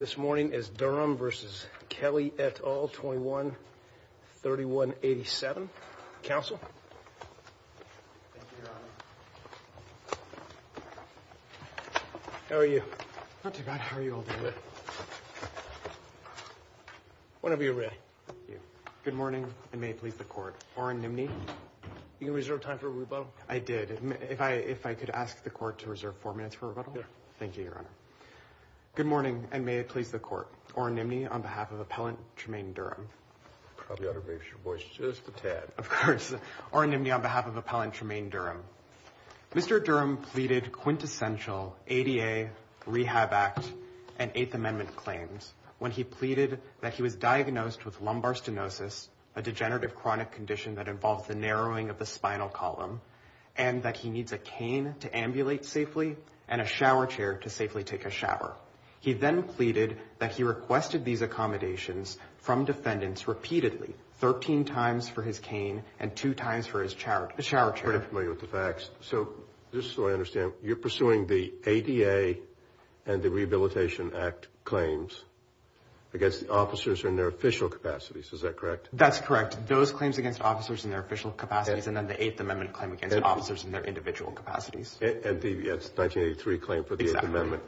This morning is Durham v. Kelley et al. 21-3187. Counsel. Thank you, Your Honor. How are you? Not too bad. How are you holding up? Whenever you're ready. Thank you. Good morning, and may it please the Court. Oren Nimney. You can reserve time for rebuttal. I did. If I could ask the Court to reserve four minutes for rebuttal. Thank you, Your Honor. Good morning, and may it please the Court. Oren Nimney, on behalf of Appellant Tremayne Durham. You probably ought to raise your voice just a tad. Of course. Oren Nimney, on behalf of Appellant Tremayne Durham. Mr. Durham pleaded quintessential ADA, Rehab Act, and Eighth Amendment claims when he pleaded that he was diagnosed with lumbar stenosis, a degenerative chronic condition that involves the narrowing of the spinal column, and that he needs a cane to ambulate safely and a shower chair to safely take a shower. He then pleaded that he requested these accommodations from defendants repeatedly, 13 times for his cane and two times for his shower chair. I'm pretty familiar with the facts. So just so I understand, you're pursuing the ADA and the Rehabilitation Act claims against the officers in their official capacities. Is that correct? That's correct. Those claims against officers in their official capacities and then the Eighth Amendment claim against officers in their individual capacities. And the 1983 claim for the Eighth Amendment.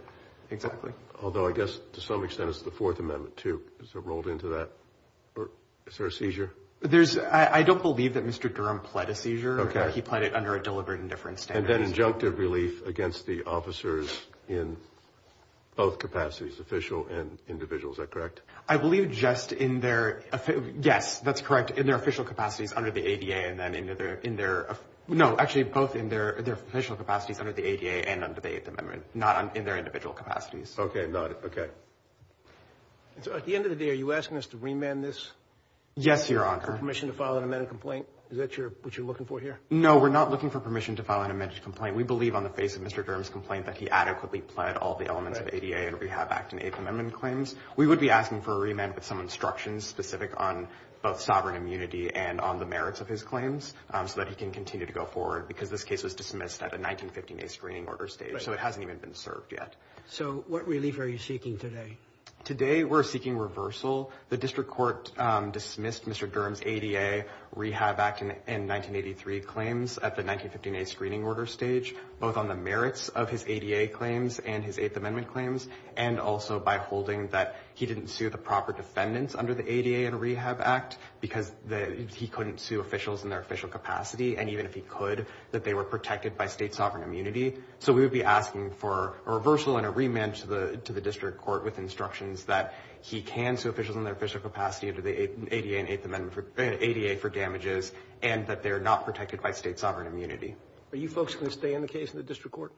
Exactly. Although I guess, to some extent, it's the Fourth Amendment, too. Is there a seizure? I don't believe that Mr. Durham pled a seizure. Okay. He pled it under a deliberate indifference standard. And then injunctive relief against the officers in both capacities, official and individual. Is that correct? I believe just in their, yes, that's correct, in their official capacities under the ADA and then in their, no, actually both in their official capacities under the ADA and under the Eighth Amendment, not in their individual capacities. Okay, got it. Okay. So at the end of the day, are you asking us to remand this? Yes, Your Honor. For permission to file an amended complaint? Is that what you're looking for here? No, we're not looking for permission to file an amended complaint. We believe on the face of Mr. Durham's complaint that he adequately pled all the elements of ADA and Rehab Act and Eighth Amendment claims. We would be asking for a remand with some instructions specific on both sovereign immunity and on the merits of his claims so that he can continue to go forward, because this case was dismissed at the 1915A screening order stage, so it hasn't even been served yet. So what relief are you seeking today? Today we're seeking reversal. The district court dismissed Mr. Durham's ADA, Rehab Act, and 1983 claims at the 1915A screening order stage, both on the merits of his ADA claims and his Eighth Amendment claims and also by holding that he didn't sue the proper defendants under the ADA and Rehab Act because he couldn't sue officials in their official capacity, and even if he could, that they were protected by state sovereign immunity. So we would be asking for a reversal and a remand to the district court with instructions that he can sue officials in their official capacity under the ADA and Eighth Amendment, ADA for damages, and that they're not protected by state sovereign immunity. Are you folks going to stay in the case in the district court?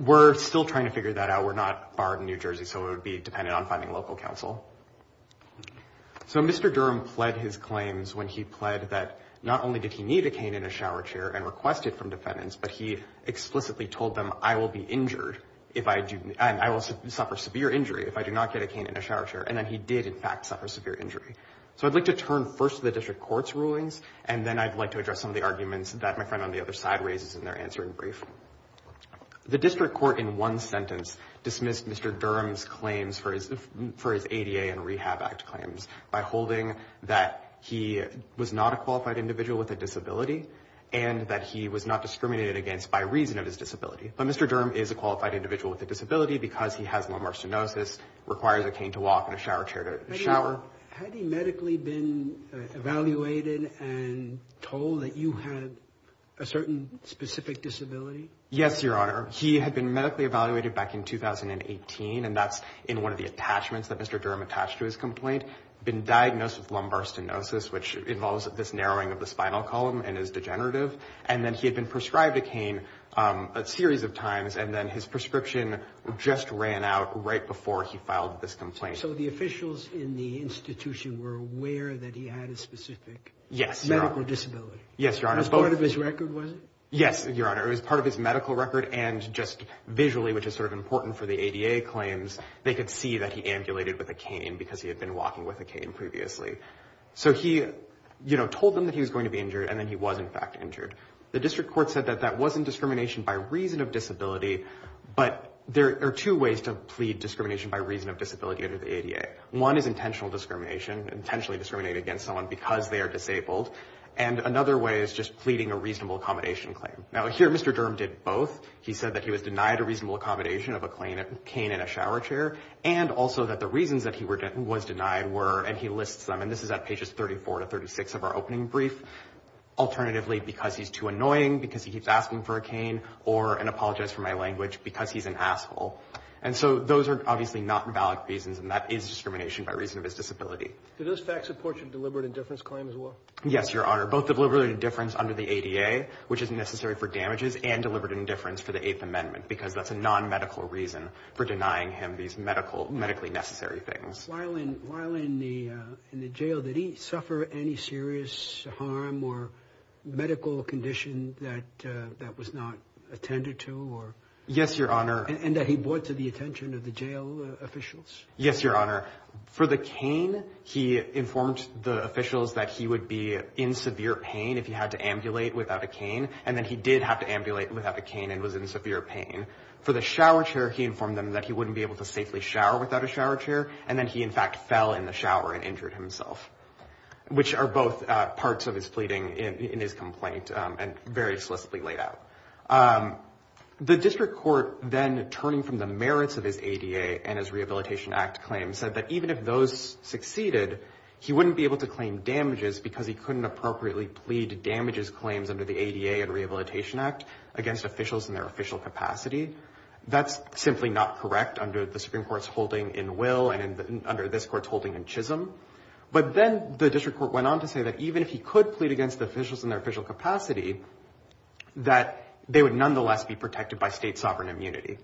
We're still trying to figure that out. We're not barred in New Jersey, so it would be dependent on finding local counsel. So Mr. Durham pled his claims when he pled that not only did he need a cane in a shower chair and request it from defendants, but he explicitly told them, I will suffer severe injury if I do not get a cane in a shower chair, and then he did, in fact, suffer severe injury. And then I'd like to address some of the arguments that my friend on the other side raises in their answering brief. The district court in one sentence dismissed Mr. Durham's claims for his ADA and Rehab Act claims by holding that he was not a qualified individual with a disability and that he was not discriminated against by reason of his disability. But Mr. Durham is a qualified individual with a disability because he has lumbar stenosis, requires a cane to walk and a shower chair to shower. Had he medically been evaluated and told that you had a certain specific disability? Yes, Your Honor. He had been medically evaluated back in 2018, and that's in one of the attachments that Mr. Durham attached to his complaint, been diagnosed with lumbar stenosis, which involves this narrowing of the spinal column and is degenerative. And then he had been prescribed a cane a series of times, and then his prescription just ran out right before he filed this complaint. So the officials in the institution were aware that he had a specific medical disability? Yes, Your Honor. It was part of his record, was it? Yes, Your Honor. It was part of his medical record. And just visually, which is sort of important for the ADA claims, they could see that he ambulated with a cane because he had been walking with a cane previously. So he told them that he was going to be injured, and then he was, in fact, injured. The district court said that that wasn't discrimination by reason of disability, but there are two ways to plead discrimination by reason of disability under the ADA. One is intentional discrimination, intentionally discriminate against someone because they are disabled, and another way is just pleading a reasonable accommodation claim. Now, here Mr. Durham did both. He said that he was denied a reasonable accommodation of a cane in a shower chair, and also that the reasons that he was denied were, and he lists them, and this is at pages 34 to 36 of our opening brief, or an apologize for my language because he's an asshole. And so those are obviously not valid reasons, and that is discrimination by reason of his disability. Did those facts support your deliberate indifference claim as well? Yes, Your Honor, both deliberate indifference under the ADA, which is necessary for damages, and deliberate indifference for the Eighth Amendment, because that's a non-medical reason for denying him these medically necessary things. While in the jail, did he suffer any serious harm or medical condition that was not attended to? Yes, Your Honor. And that he brought to the attention of the jail officials? Yes, Your Honor. For the cane, he informed the officials that he would be in severe pain if he had to ambulate without a cane, and then he did have to ambulate without a cane and was in severe pain. For the shower chair, he informed them that he wouldn't be able to safely shower without a shower chair, and then he, in fact, fell in the shower and injured himself, which are both parts of his pleading in his complaint and very solicitly laid out. The district court then, turning from the merits of his ADA and his Rehabilitation Act claim, said that even if those succeeded, he wouldn't be able to claim damages because he couldn't appropriately plead damages claims under the ADA and Rehabilitation Act against officials in their official capacity. That's simply not correct under the Supreme Court's holding in Will and under this court's holding in Chisholm. But then the district court went on to say that even if he could plead against officials in their official capacity, that they would nonetheless be protected by state sovereign immunity.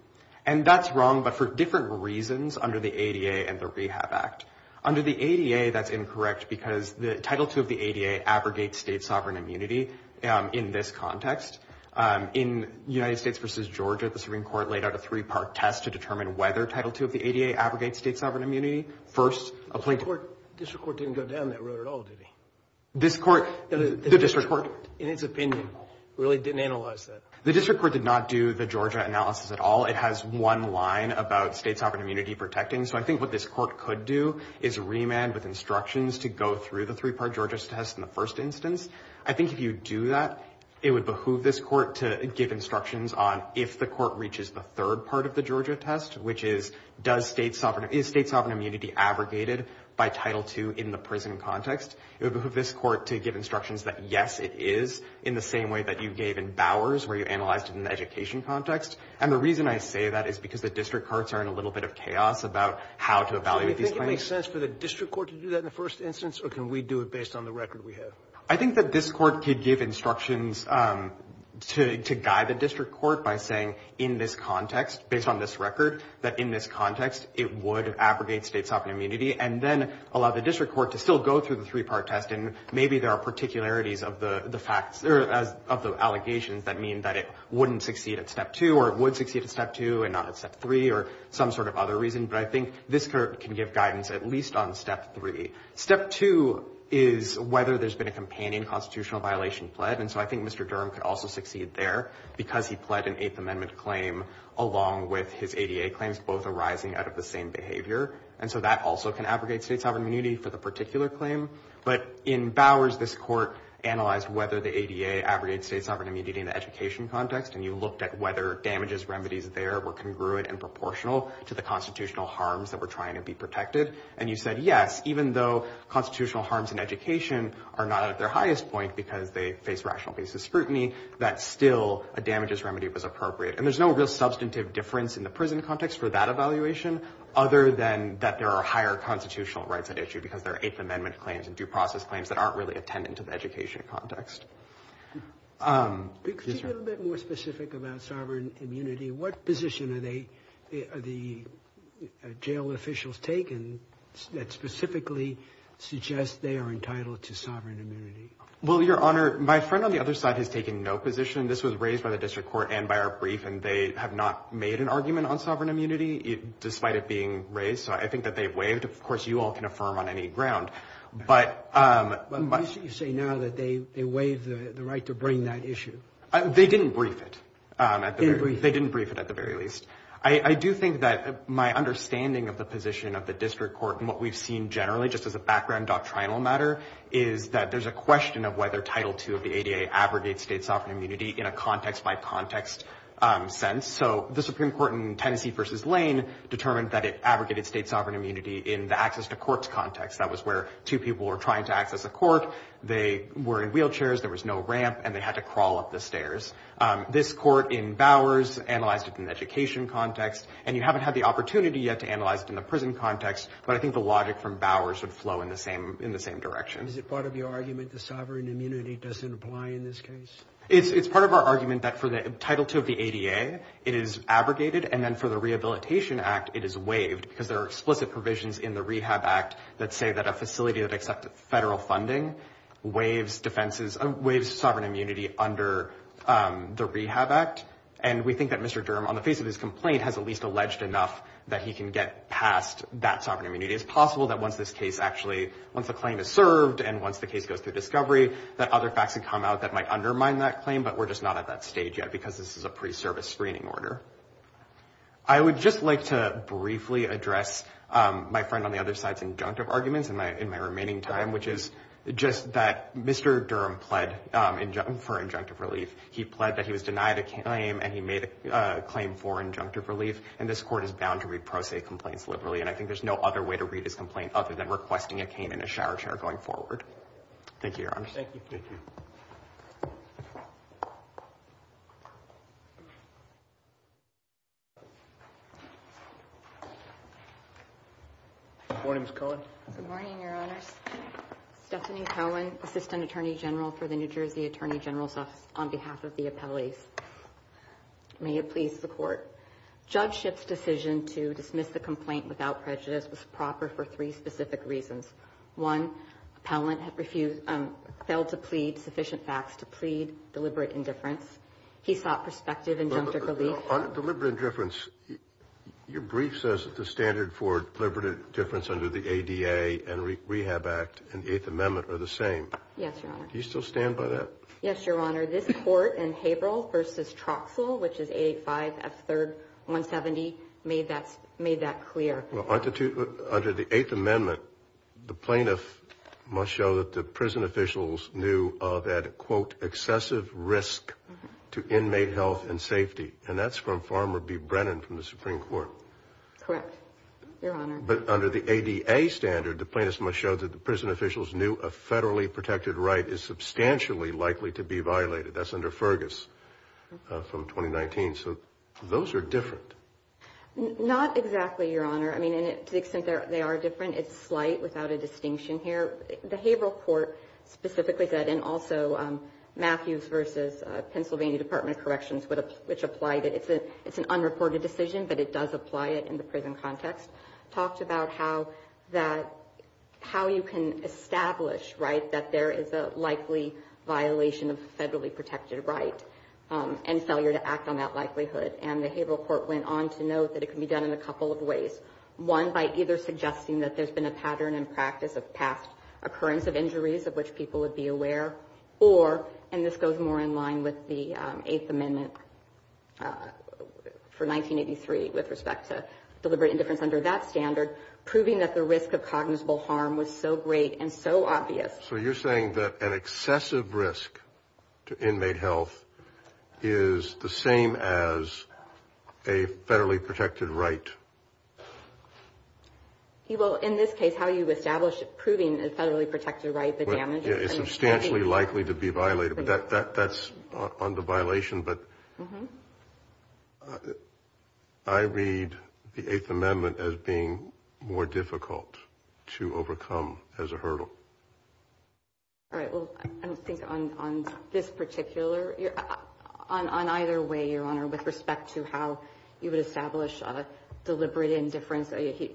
And that's wrong, but for different reasons under the ADA and the Rehab Act. Under the ADA, that's incorrect because Title II of the ADA abrogates state sovereign immunity in this context. In United States v. Georgia, the Supreme Court laid out a three-part test to determine whether Title II of the ADA abrogates state sovereign immunity. First, a plaintiff... The district court didn't go down that road at all, did he? This court... The district court, in its opinion, really didn't analyze that. The district court did not do the Georgia analysis at all. It has one line about state sovereign immunity protecting. So I think what this court could do is remand with instructions to go through the three-part Georgia test in the first instance. I think if you do that, it would behoove this court to give instructions on if the court reaches the third part of the Georgia test, which is, is state sovereign immunity abrogated by Title II in the prison context? It would behoove this court to give instructions that, yes, it is, in the same way that you gave in Bowers, where you analyzed it in the education context. And the reason I say that is because the district courts are in a little bit of chaos about how to evaluate these claims. So do you think it makes sense for the district court to do that in the first instance, or can we do it based on the record we have? I think that this court could give instructions to guide the district court by saying in this context, based on this record, that in this context it would abrogate state sovereign immunity and then allow the district court to still go through the three-part test. And maybe there are particularities of the facts or of the allegations that mean that it wouldn't succeed at Step 2 or it would succeed at Step 2 and not at Step 3 or some sort of other reason. But I think this court can give guidance at least on Step 3. Step 2 is whether there's been a companion constitutional violation pled. And so I think Mr. Durham could also succeed there because he pled an Eighth Amendment claim along with his ADA claims, both arising out of the same behavior. And so that also can abrogate state sovereign immunity for the particular claim. But in Bowers, this court analyzed whether the ADA abrogated state sovereign immunity in the education context, and you looked at whether damages, remedies there were congruent and proportional to the constitutional harms that were trying to be protected. And you said, yes, even though constitutional harms in education are not at their highest point because they face rational basis scrutiny, that still a damages remedy was appropriate. And there's no real substantive difference in the prison context for that evaluation other than that there are higher constitutional rights at issue because there are Eighth Amendment claims and due process claims that aren't really attendant to the education context. Could you be a little bit more specific about sovereign immunity? What position are the jail officials taking that specifically suggests they are entitled to sovereign immunity? Well, Your Honor, my friend on the other side has taken no position. This was raised by the district court and by our brief, and they have not made an argument on sovereign immunity despite it being raised. So I think that they've waived. Of course, you all can affirm on any ground. But you say now that they waived the right to bring that issue. They didn't brief it. They didn't brief it at the very least. I do think that my understanding of the position of the district court and what we've seen generally just as a background doctrinal matter is that there's a question of whether Title II of the ADA abrogates state sovereign immunity in a context-by-context sense. So the Supreme Court in Tennessee v. Lane determined that it abrogated state sovereign immunity in the access-to-courts context. That was where two people were trying to access a court. They were in wheelchairs. There was no ramp, and they had to crawl up the stairs. This court in Bowers analyzed it in the education context, and you haven't had the opportunity yet to analyze it in the prison context, but I think the logic from Bowers would flow in the same direction. Is it part of your argument that sovereign immunity doesn't apply in this case? It's part of our argument that for Title II of the ADA, it is abrogated, and then for the Rehabilitation Act, it is waived because there are explicit provisions in the Rehab Act that say that a facility that accepted federal funding waives sovereign immunity under the Rehab Act, and we think that Mr. Durham, on the face of his complaint, has at least alleged enough that he can get past that sovereign immunity. It's possible that once this case actually, once the claim is served and once the case goes through discovery, that other facts can come out that might undermine that claim, but we're just not at that stage yet because this is a pre-service screening order. I would just like to briefly address my friend on the other side's in my remaining time, which is just that Mr. Durham pled for injunctive relief. He pled that he was denied a claim and he made a claim for injunctive relief, and this court is bound to read pro se complaints liberally, and I think there's no other way to read his complaint other than requesting a cane and a shower chair going forward. Thank you, Your Honor. Thank you. Good morning, Ms. Cohen. Good morning, Your Honors. Stephanie Cohen, Assistant Attorney General for the New Jersey Attorney General's Office, on behalf of the appellees. May it please the Court. Judge Schiff's decision to dismiss the complaint without prejudice was proper for three specific reasons. One, appellant failed to plead sufficient facts to plead deliberate indifference. He sought prospective injunctive relief. On deliberate indifference, your brief says that the standard for deliberate indifference under the ADA and the Rehab Act and the Eighth Amendment are the same. Yes, Your Honor. Do you still stand by that? Yes, Your Honor. This court in Haberle v. Troxell, which is 885 F. 3rd 170, made that clear. Under the Eighth Amendment, the plaintiff must show that the prison officials knew of an, quote, excessive risk to inmate health and safety, and that's from Farmer B. Brennan from the Supreme Court. Correct, Your Honor. But under the ADA standard, the plaintiff must show that the prison officials knew a federally protected right is substantially likely to be violated. That's under Fergus from 2019. So those are different. Not exactly, Your Honor. I mean, to the extent they are different, it's slight without a distinction here. The Haberle court specifically said, and also Matthews v. Pennsylvania Department of Corrections, which applied it, it's an unreported decision, but it does apply it in the prison context, talked about how you can establish, right, that there is a likely violation of a federally protected right and failure to act on that likelihood. And the Haberle court went on to note that it can be done in a couple of ways. One, by either suggesting that there's been a pattern and practice of past occurrence of injuries of which people would be aware, or, and this goes more in line with the Eighth Amendment for 1983 with respect to deliberate indifference under that standard, proving that the risk of cognizable harm was so great and so obvious. So you're saying that an excessive risk to inmate health is the same as a federally protected right? Well, in this case, how you establish proving a federally protected right, the damage is substantially likely to be violated, but that's under violation. But I read the Eighth Amendment as being more difficult to overcome as a hurdle. All right. Well, I think on this particular, on either way, Your Honor, with respect to how you would establish deliberate indifference,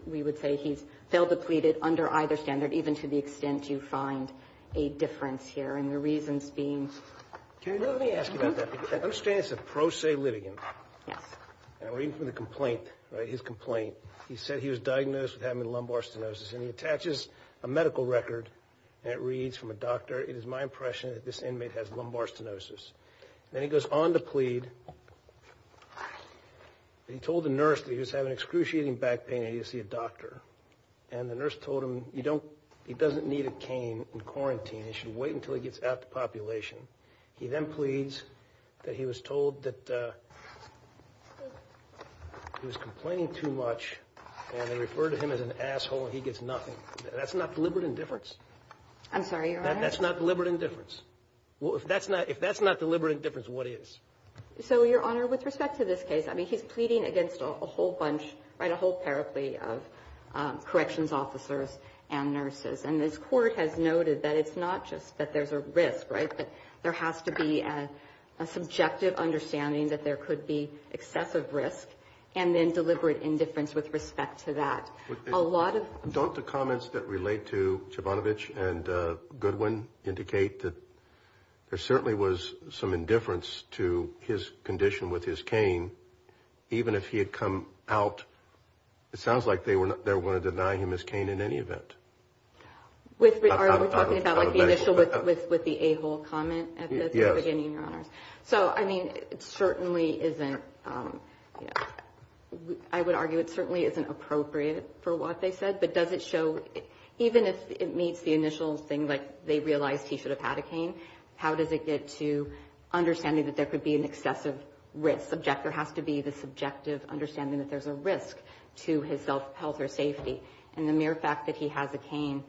we would say he's failed to plead it under either standard, even to the extent you find a difference here. And the reasons being. Let me ask you about that. I understand it's a pro se litigant. Yes. And I read from the complaint, right, his complaint. He said he was diagnosed with having lumbar stenosis, and he attaches a medical record, and it reads from a doctor, it is my impression that this inmate has lumbar stenosis. Then he goes on to plead. He told the nurse that he was having excruciating back pain and he needed to see a doctor. And the nurse told him he doesn't need a cane in quarantine. He should wait until he gets out of the population. He then pleads that he was told that he was complaining too much, and they referred to him as an asshole and he gets nothing. That's not deliberate indifference. I'm sorry, Your Honor. That's not deliberate indifference. Well, if that's not deliberate indifference, what is? So, Your Honor, with respect to this case, I mean, he's pleading against a whole bunch, right, a whole paraplegia of corrections officers and nurses. And this court has noted that it's not just that there's a risk, right, that there has to be a subjective understanding that there could be excessive risk and then deliberate indifference with respect to that. Don't the comments that relate to Chobanovich and Goodwin indicate that there certainly was some indifference to his condition with his cane, even if he had come out? It sounds like they were going to deny him his cane in any event. Are we talking about like the initial with the A-hole comment at the beginning, Your Honor? So, I mean, it certainly isn't, you know, I would argue it certainly isn't appropriate for what they said. But does it show, even if it meets the initial thing, like they realized he should have had a cane, how does it get to understanding that there could be an excessive risk? The objective has to be the subjective understanding that there's a risk to his health or safety. And the mere fact that he has a cane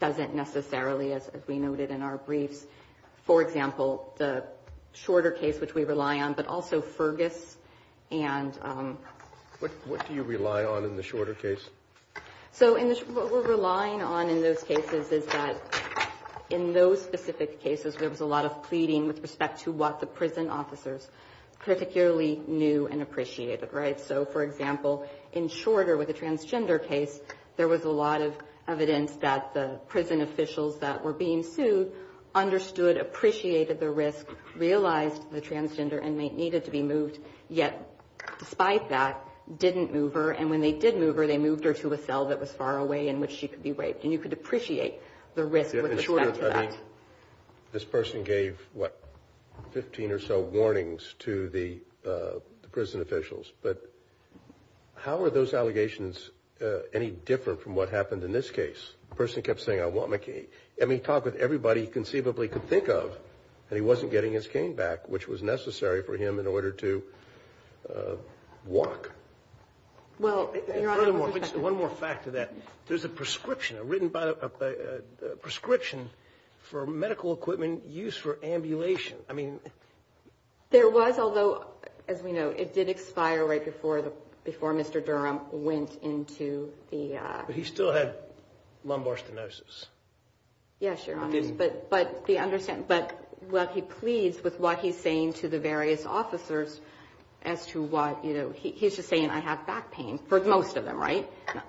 doesn't necessarily, as we noted in our briefs, for example, the shorter case which we rely on, but also Fergus. And what do you rely on in the shorter case? So what we're relying on in those cases is that in those specific cases, there was a lot of pleading with respect to what the prison officers particularly knew and appreciated, right? So, for example, in shorter with a transgender case, there was a lot of evidence that the prison officials that were being sued understood, appreciated the risk, realized the transgender inmate needed to be moved, yet despite that, didn't move her. And when they did move her, they moved her to a cell that was far away in which she could be raped. And you could appreciate the risk with respect to that. This person gave, what, 15 or so warnings to the prison officials. But how are those allegations any different from what happened in this case? The person kept saying, I want my cane. And he talked with everybody he conceivably could think of, and he wasn't getting his cane back, which was necessary for him in order to walk. Well, Your Honor. One more fact to that. There's a prescription, a written prescription for medical equipment used for ambulation. There was, although, as we know, it did expire right before Mr. Durham went into the... But he still had lumbar stenosis. Yes, Your Honor. But what he pleased with what he's saying to the various officers as to why, you know, he's just saying, I have back pain, for most of them, right,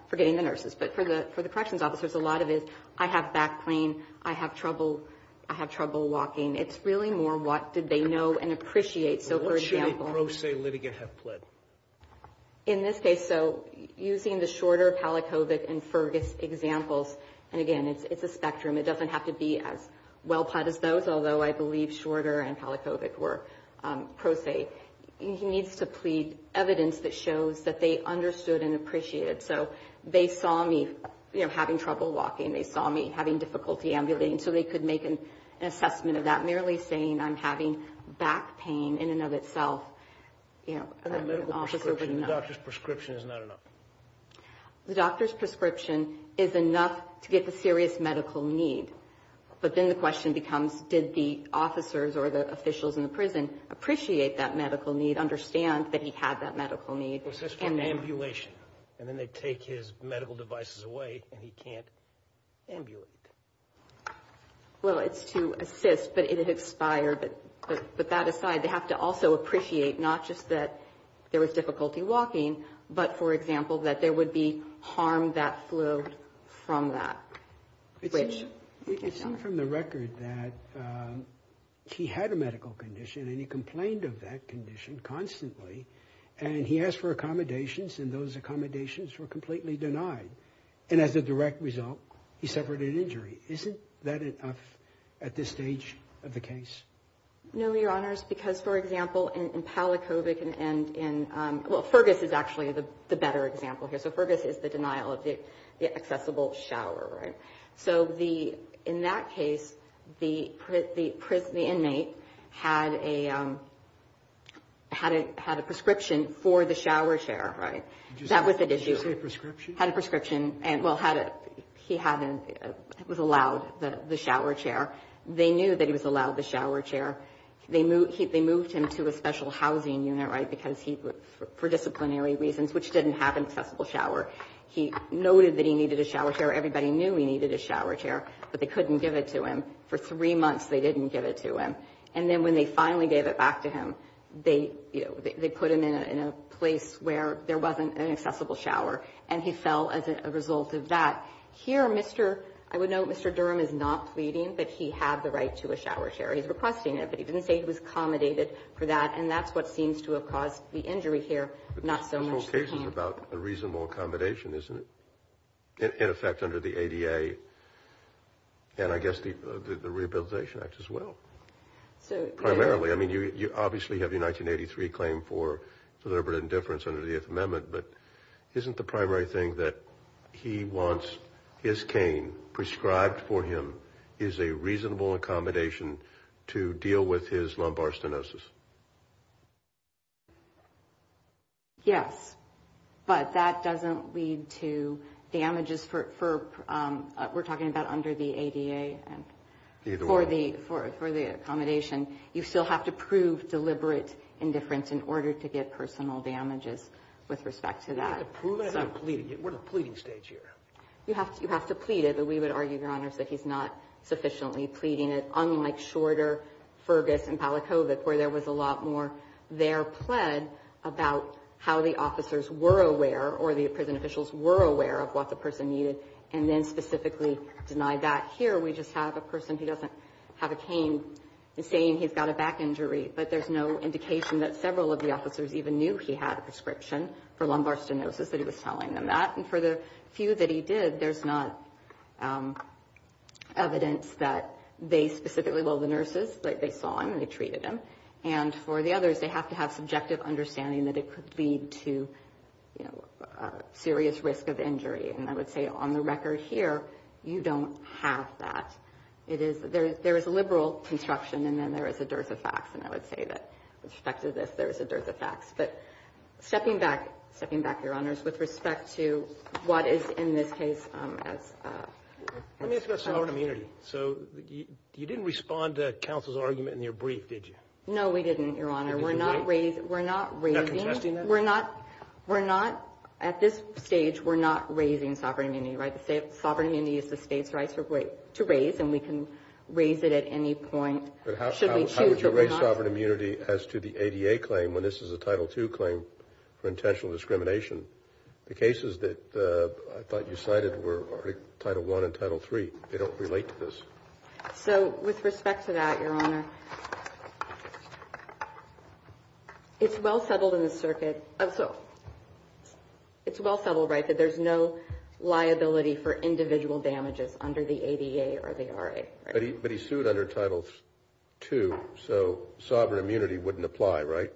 for getting the nurses. But for the corrections officers, a lot of it is, I have back pain, I have trouble walking. It's really more what did they know and appreciate. So, for example... What should a pro se litigant have pled? In this case, so, using the Shorter, Palachovic, and Fergus examples... And, again, it's a spectrum. It doesn't have to be as well pled as those, although I believe Shorter and Palachovic were pro se. He needs to plead evidence that shows that they understood and appreciated. So, they saw me, you know, having trouble walking. They saw me having difficulty ambulating, so they could make an assessment of that. Merely saying, I'm having back pain in and of itself... And the medical prescription, the doctor's prescription is not enough. The doctor's prescription is enough to get the serious medical need. But then the question becomes, did the officers or the officials in the prison appreciate that medical need, understand that he had that medical need. What's this called? Ambulation. And then they take his medical devices away, and he can't ambulate. Well, it's to assist, but it expired. But that aside, they have to also appreciate not just that there was difficulty walking, but, for example, that there would be harm that flowed from that. It seemed from the record that he had a medical condition, and he complained of that condition constantly. And he asked for accommodations, and those accommodations were completely denied. And as a direct result, he suffered an injury. Isn't that enough at this stage of the case? No, Your Honors, because, for example, in Palakovic and in... Well, Fergus is actually the better example here. So, Fergus is the denial of the accessible shower, right? So in that case, the inmate had a prescription for the shower chair, right? That was the issue. Did you say prescription? Had a prescription. Well, he was allowed the shower chair. They knew that he was allowed the shower chair. They moved him to a special housing unit, right, for disciplinary reasons, which didn't have an accessible shower. He noted that he needed a shower chair. Everybody knew he needed a shower chair, but they couldn't give it to him. For three months, they didn't give it to him. And then when they finally gave it back to him, they put him in a place where there wasn't an accessible shower, and he fell as a result of that. Here, Mr. Durham is not pleading, but he had the right to a shower chair. He's requesting it, but he didn't say he was accommodated for that, and that's what seems to have caused the injury here, not so much the pain. But this whole case is about a reasonable accommodation, isn't it? In effect under the ADA, and I guess the Rehabilitation Act as well. Primarily. I mean, you obviously have the 1983 claim for deliberate indifference under the Eighth Amendment, but isn't the primary thing that he wants his cane prescribed for him is a reasonable accommodation to deal with his lumbar stenosis? Yes. But that doesn't lead to damages for, we're talking about under the ADA. Either way. For the accommodation. You still have to prove deliberate indifference in order to get personal damages with respect to that. You have to prove it? I'm not pleading. We're in a pleading stage here. You have to plead it, but we would argue, Your Honors, that he's not sufficiently pleading it, there was a lot more there plead about how the officers were aware or the prison officials were aware of what the person needed and then specifically denied that. Here we just have a person who doesn't have a cane saying he's got a back injury, but there's no indication that several of the officers even knew he had a prescription for lumbar stenosis, that he was telling them that. And for the few that he did, there's not evidence that they specifically, well, the nurses, they saw him and they treated him. And for the others, they have to have subjective understanding that it could lead to, you know, a serious risk of injury. And I would say on the record here, you don't have that. There is a liberal construction and then there is a dearth of facts, and I would say that with respect to this, there is a dearth of facts. But stepping back, Your Honors, with respect to what is in this case as... Let me ask about sovereign immunity. So you didn't respond to counsel's argument in your brief, did you? No, we didn't, Your Honor. We're not raising... You're not contesting that? We're not. We're not. At this stage, we're not raising sovereign immunity, right? Sovereign immunity is the state's right to raise, and we can raise it at any point. But how would you raise sovereign immunity as to the ADA claim when this is a Title II claim for intentional discrimination? The cases that I thought you cited were Title I and Title III. They don't relate to this. So with respect to that, Your Honor, it's well settled in the circuit. So it's well settled, right, that there's no liability for individual damages under the ADA or the RA, right? But he sued under Title II, so sovereign immunity wouldn't apply, right?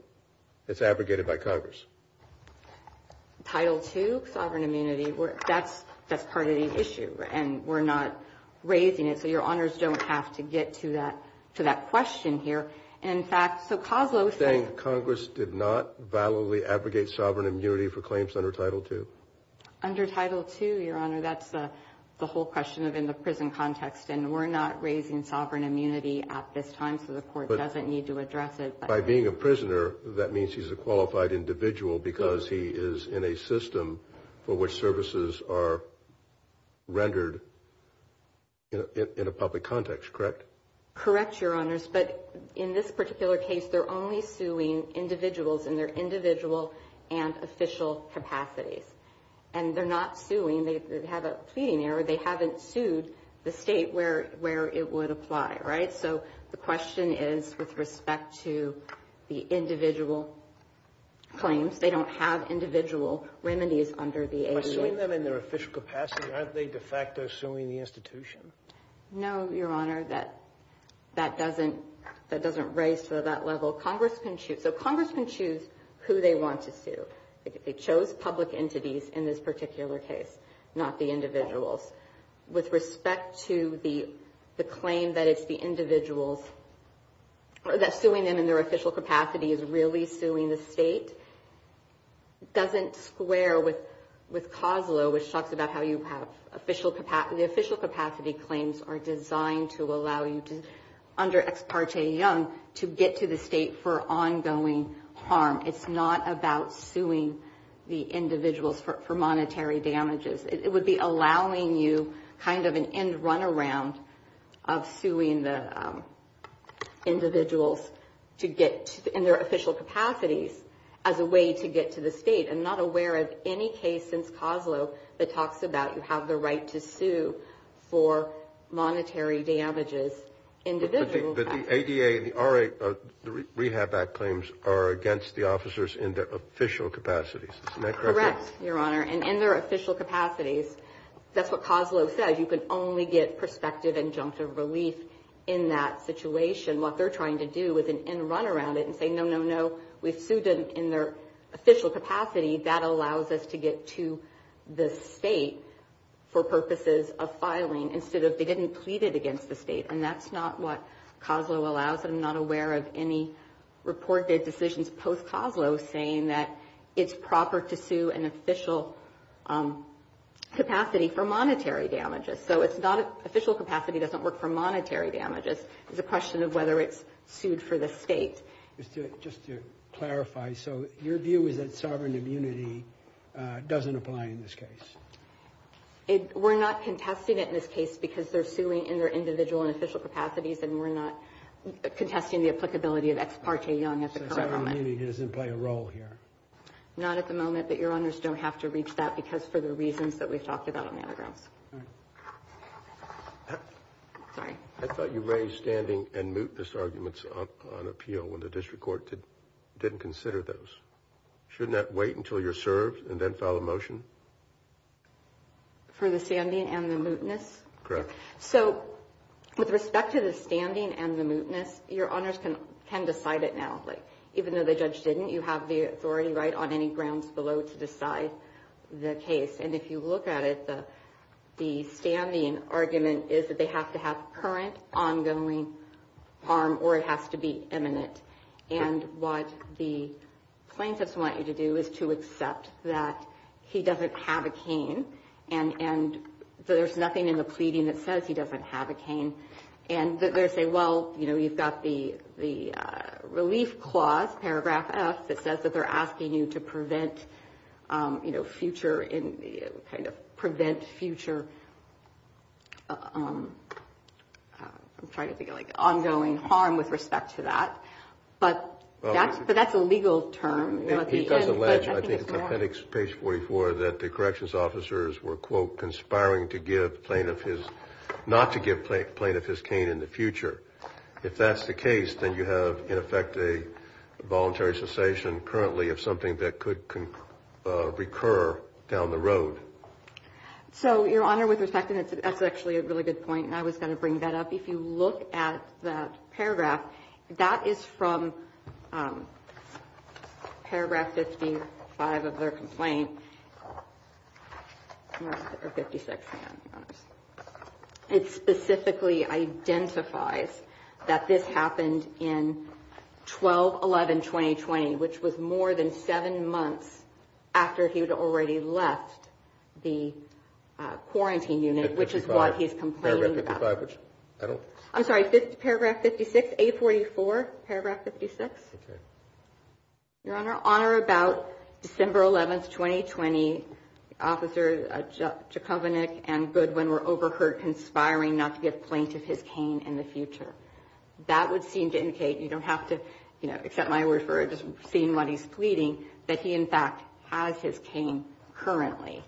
It's abrogated by Congress. Title II, sovereign immunity, that's part of the issue, and we're not raising it. So Your Honors don't have to get to that question here. In fact, so Coslow said... Congress did not validly abrogate sovereign immunity for claims under Title II? Under Title II, Your Honor, that's the whole question in the prison context, and we're not raising sovereign immunity at this time, so the Court doesn't need to address it. By being a prisoner, that means he's a qualified individual because he is in a system for which services are rendered in a public context, correct? Correct, Your Honors, but in this particular case, they're only suing individuals in their individual and official capacities, and they're not suing. They have a pleading error. They haven't sued the state where it would apply, right? So the question is with respect to the individual claims. They don't have individual remedies under the ADA. By suing them in their official capacity, aren't they de facto suing the institution? No, Your Honor, that doesn't raise to that level. So Congress can choose who they want to sue. They chose public entities in this particular case, not the individuals. With respect to the claim that it's the individuals, that suing them in their official capacity is really suing the state, doesn't square with COSLA, which talks about how you have official capacity. The official capacity claims are designed to allow you, under Ex parte Young, to get to the state for ongoing harm. It's not about suing the individuals for monetary damages. It would be allowing you kind of an end-runaround of suing the individuals in their official capacities as a way to get to the state. I'm not aware of any case since COSLA that talks about you have the right to sue for monetary damages, individual damages. But the ADA and the REHAB Act claims are against the officers in their official capacities. Isn't that correct? Correct, Your Honor. And in their official capacities, that's what COSLA says. You can only get prospective injunctive relief in that situation. What they're trying to do is an end-runaround and say, no, no, no. We've sued them in their official capacity. That allows us to get to the state for purposes of filing, instead of they didn't plead it against the state. And that's not what COSLA allows. I'm not aware of any reported decisions post-COSLA saying that it's proper to sue in official capacity for monetary damages. So it's not official capacity doesn't work for monetary damages. It's a question of whether it's sued for the state. Just to clarify, so your view is that sovereign immunity doesn't apply in this case? We're not contesting it in this case because they're suing in their individual and official capacities, and we're not contesting the applicability of Ex parte Young at the current moment. So sovereign immunity doesn't play a role here? Not at the moment, but your honors don't have to reach that because for the reasons that we've talked about on the other grounds. Sorry. I thought you raised standing and mootness arguments on appeal when the district court didn't consider those. Shouldn't that wait until you're served and then file a motion? For the standing and the mootness? Correct. So with respect to the standing and the mootness, your honors can decide it now. Even though the judge didn't, you have the authority right on any grounds below to decide the case. And if you look at it, the standing argument is that they have to have current ongoing harm or it has to be imminent. And what the plaintiffs want you to do is to accept that he doesn't have a cane and there's nothing in the pleading that says he doesn't have a cane. And they say, well, you've got the relief clause, paragraph F, that says that they're asking you to prevent future, I'm trying to think, like ongoing harm with respect to that. But that's a legal term. He does allege, I think it's on appendix page 44, that the corrections officers were, quote, not to give plaintiff his cane in the future. If that's the case, then you have, in effect, a voluntary cessation currently of something that could recur down the road. So, your honor, with respect, and that's actually a really good point, and I was going to bring that up, if you look at that paragraph, that is from paragraph 55 of their complaint, or 56, hang on. It specifically identifies that this happened in 12-11-2020, which was more than seven months after he had already left the quarantine unit, which is what he's complaining about. I'm sorry, paragraph 56, 844, paragraph 56? Okay. Your honor, on or about December 11th, 2020, Officer Jachovinick and Goodwin were overheard conspiring not to give plaintiff his cane in the future. That would seem to indicate, you don't have to, you know, accept my word for it, just seeing what he's pleading, that he, in fact, has his cane currently.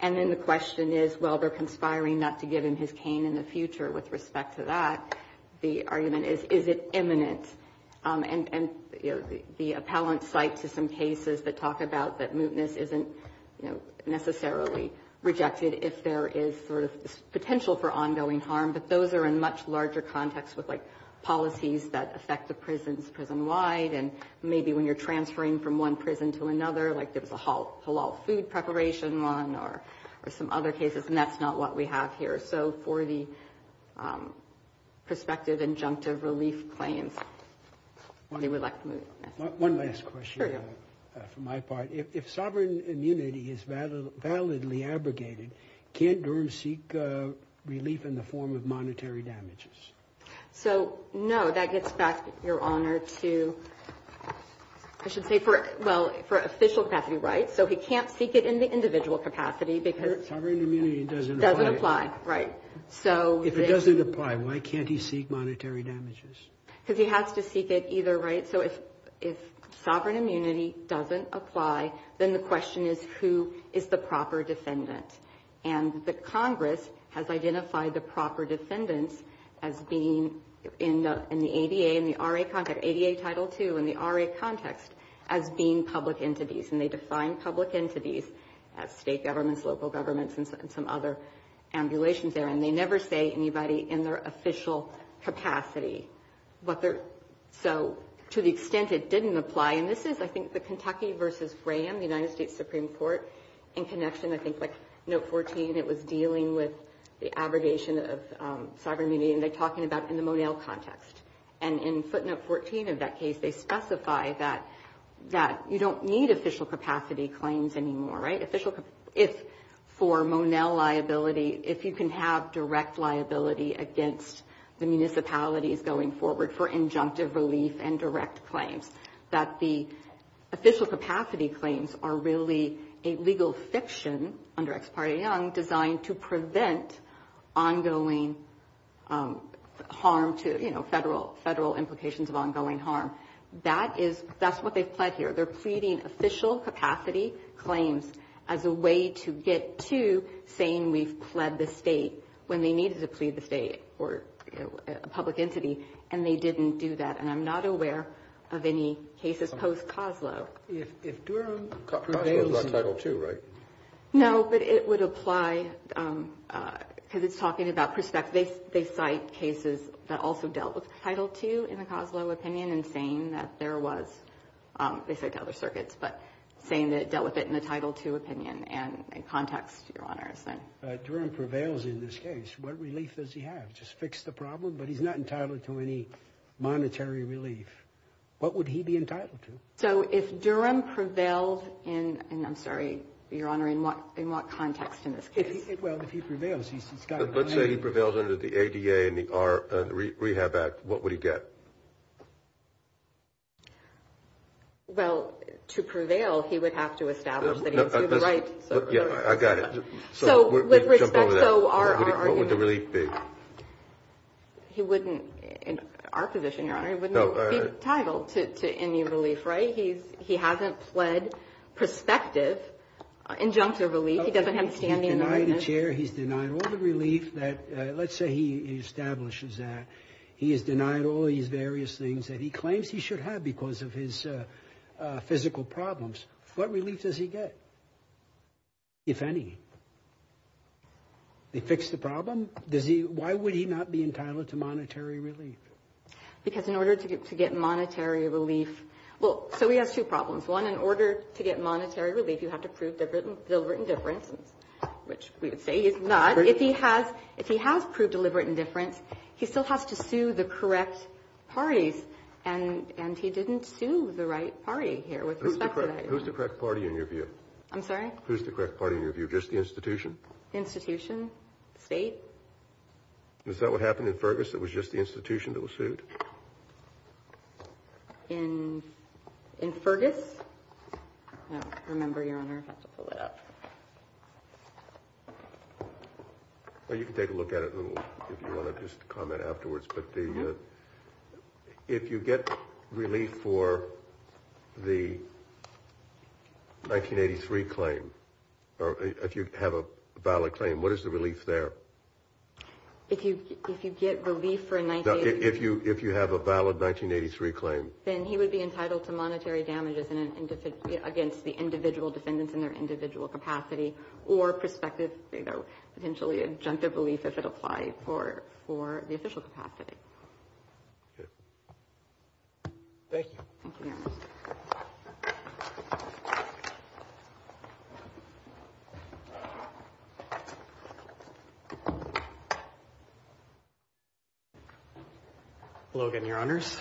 And then the question is, well, they're conspiring not to give him his cane in the future with respect to that. The argument is, is it imminent? And the appellant cites some cases that talk about that mootness isn't, you know, necessarily rejected if there is sort of potential for ongoing harm, but those are in much larger context with, like, policies that affect the prisons prison-wide, and maybe when you're transferring from one prison to another, like there was a halal food preparation run or some other cases, and that's not what we have here. So for the prospective injunctive relief claims, they would like to move. One last question for my part. If sovereign immunity is validly abrogated, can't Durham seek relief in the form of monetary damages? So, no, that gets back, your honor, to, I should say, for, well, for official capacity rights. So he can't seek it in the individual capacity because Sovereign immunity doesn't apply. Doesn't apply, right. If it doesn't apply, why can't he seek monetary damages? Because he has to seek it either way. So if sovereign immunity doesn't apply, then the question is, who is the proper defendant? And the Congress has identified the proper defendants as being in the ADA, in the RA context, ADA Title II in the RA context, as being public entities, and they define public entities as state governments, local governments, and some other ambulations there, and they never say anybody in their official capacity. So to the extent it didn't apply, and this is, I think, the Kentucky versus Fram, the United States Supreme Court, in connection, I think, like Note 14, it was dealing with the abrogation of sovereign immunity, and they're talking about in the Monell context. And in footnote 14 of that case, they specify that you don't need official capacity claims anymore, right. If for Monell liability, if you can have direct liability against the municipalities going forward for injunctive relief and direct claims, that the official capacity claims are really a legal fiction, under Ex parte Young, designed to prevent ongoing harm to, you know, federal implications of ongoing harm. That is, that's what they've pled here. They're pleading official capacity claims as a way to get to saying we've pled the state when they needed to plead the state or a public entity, and they didn't do that, and I'm not aware of any cases post-COSLO. If Duran, COSLO is like Title II, right? No, but it would apply, because it's talking about perspective. They cite cases that also dealt with Title II in the COSLO opinion, and saying that there was, they say to other circuits, but saying that it dealt with it in the Title II opinion and context, Your Honor. If Duran prevails in this case, what relief does he have? Just fix the problem? But he's not entitled to any monetary relief. What would he be entitled to? So if Duran prevailed in, I'm sorry, Your Honor, in what context in this case? Well, if he prevails, he's got. Let's say he prevails under the ADA and the Rehab Act, what would he get? Well, to prevail, he would have to establish that he would do the right. Yeah, I got it. So with respect, so our argument. What would the relief be? He wouldn't, in our position, Your Honor, he wouldn't be entitled to any relief, right? He hasn't pled perspective, injunctive relief. He doesn't have standing in the witness. He's denied a chair. He's denied all the relief that, let's say he establishes that. He has denied all these various things that he claims he should have because of his physical problems. What relief does he get, if any? They fix the problem? Why would he not be entitled to monetary relief? Because in order to get monetary relief, well, so he has two problems. One, in order to get monetary relief, you have to prove deliberate indifference, which we would say he's not. If he has proved deliberate indifference, he still has to sue the correct parties. And he didn't sue the right party here with respect to that. Who's the correct party in your view? I'm sorry? Who's the correct party in your view? Just the institution? Institution? State? Is that what happened in Fergus that was just the institution that was sued? In Fergus? Remember, Your Honor, I have to pull that up. Well, you can take a look at it if you want to just comment afterwards. But if you get relief for the 1983 claim, or if you have a valid claim, what is the relief there? If you get relief for a 1983? If you have a valid 1983 claim. Then he would be entitled to monetary damages against the individual defendants in their individual capacity, or prospective, potentially adjunctive relief if it applied for the official capacity. Thank you. Thank you, Your Honor. Hello again, Your Honors.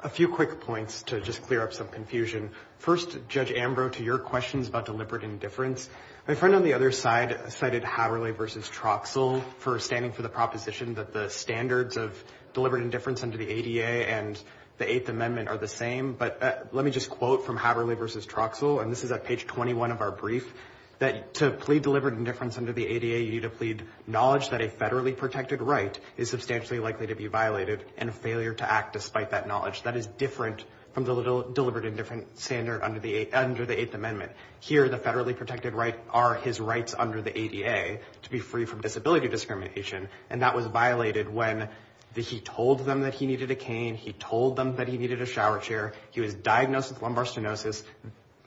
A few quick points to just clear up some confusion. First, Judge Ambrose, to your questions about deliberate indifference. My friend on the other side cited Haverly v. Troxell for standing for the proposition that the standards of deliberate indifference under the ADA and the Eighth Amendment are the same. But let me just quote from Haverly v. Troxell, and this is at page 21 of our brief, that to plead deliberate indifference under the ADA, you need to plead knowledge that a federally protected right is substantially likely to be violated and a failure to act despite that knowledge. That is different from the deliberate indifference standard under the Eighth Amendment. Here, the federally protected rights are his rights under the ADA to be free from disability discrimination. And that was violated when he told them that he needed a cane. He told them that he needed a shower chair. He was diagnosed with lumbar stenosis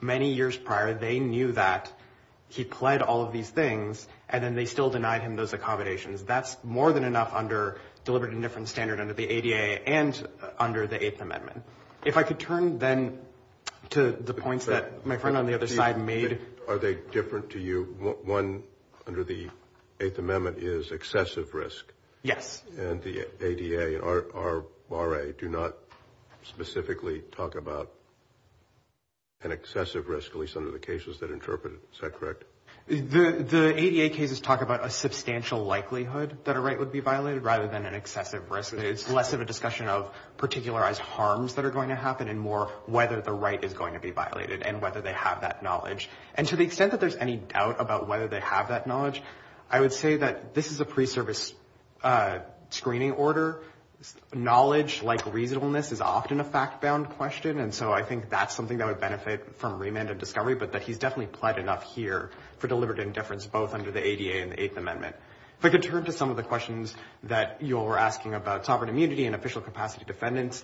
many years prior. They knew that he pled all of these things, and then they still denied him those accommodations. That's more than enough under deliberate indifference standard under the ADA and under the Eighth Amendment. If I could turn then to the points that my friend on the other side made. Are they different to you? One under the Eighth Amendment is excessive risk. Yes. And the ADA and our RA do not specifically talk about an excessive risk, at least under the cases that are interpreted. Is that correct? The ADA cases talk about a substantial likelihood that a right would be violated rather than an excessive risk. It's less of a discussion of particularized harms that are going to happen and more whether the right is going to be violated and whether they have that knowledge. And to the extent that there's any doubt about whether they have that knowledge, I would say that this is a pre-service screening order. Knowledge, like reasonableness, is often a fact-bound question, and so I think that's something that would benefit from remand and discovery, but that he's definitely pled enough here for deliberate indifference both under the ADA and the Eighth Amendment. If I could turn to some of the questions that you're asking about sovereign immunity and official capacity defendants,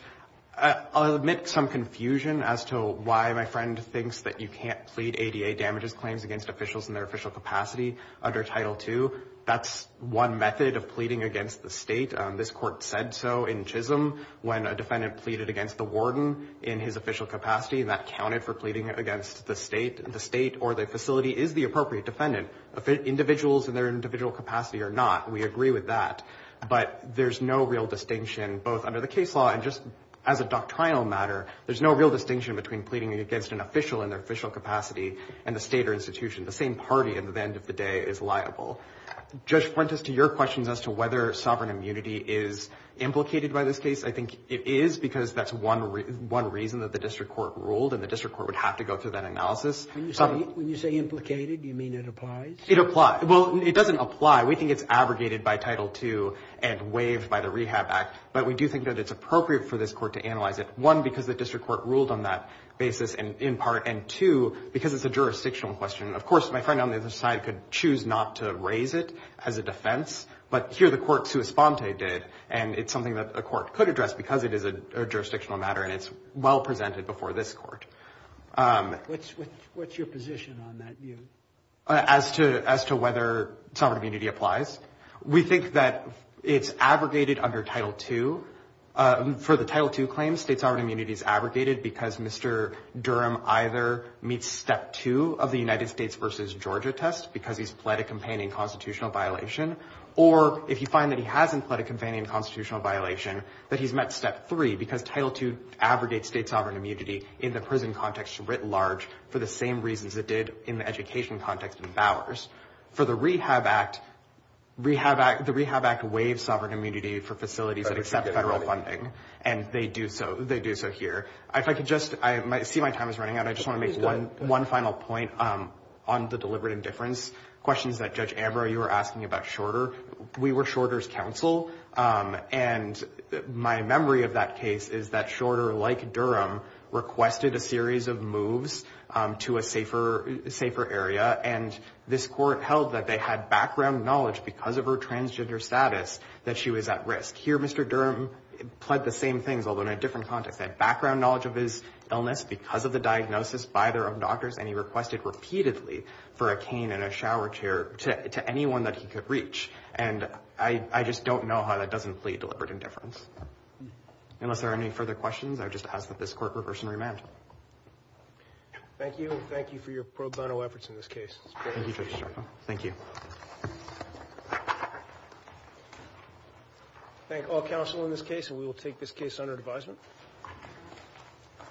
I'll admit some confusion as to why my friend thinks that you can't plead ADA damages claims against officials in their official capacity under Title II. That's one method of pleading against the state. This court said so in Chisholm when a defendant pleaded against the warden in his official capacity, and that counted for pleading against the state or the facility is the appropriate defendant. Individuals in their individual capacity are not. We agree with that. But there's no real distinction both under the case law and just as a doctrinal matter, there's no real distinction between pleading against an official in their official capacity and the state or institution. The same party at the end of the day is liable. Judge Fuentes, to your questions as to whether sovereign immunity is implicated by this case, I think it is because that's one reason that the district court ruled, and the district court would have to go through that analysis. When you say implicated, do you mean it applies? It applies. Well, it doesn't apply. We think it's abrogated by Title II and waived by the Rehab Act, but we do think that it's appropriate for this court to analyze it, one, because the district court ruled on that basis in part, and two, because it's a jurisdictional question. Of course, my friend on the other side could choose not to raise it as a defense, but here the court sua sponte did, and it's something that the court could address because it is a jurisdictional matter and it's well presented before this court. What's your position on that view? As to whether sovereign immunity applies, we think that it's abrogated under Title II. For the Title II claims, state sovereign immunity is abrogated because Mr. Durham either meets Step 2 of the United States versus Georgia test because he's pled a companion constitutional violation, or if you find that he hasn't pled a companion constitutional violation, that he's met Step 3 because Title II abrogates state sovereign immunity in the prison context writ large for the same reasons it did in the education context in Bowers. For the Rehab Act, the Rehab Act waives sovereign immunity for facilities that accept federal funding, and they do so here. If I could just see my time is running out, I just want to make one final point on the deliberate indifference questions that Judge Ambrose, you were asking about Shorter. We were Shorter's counsel, and my memory of that case is that Shorter, like Durham, requested a series of moves to a safer area, and this court held that they had background knowledge because of her transgender status that she was at risk. Here, Mr. Durham pled the same things, although in a different context. They had background knowledge of his illness because of the diagnosis by their own doctors, and he requested repeatedly for a cane and a shower chair to anyone that he could reach. I just don't know how that doesn't plead deliberate indifference. Unless there are any further questions, I would just ask that this court reverse and remand. Thank you, and thank you for your pro bono efforts in this case. Thank you, Judge Shorter. Thank you. Thank all counsel in this case, and we will take this case under advisement.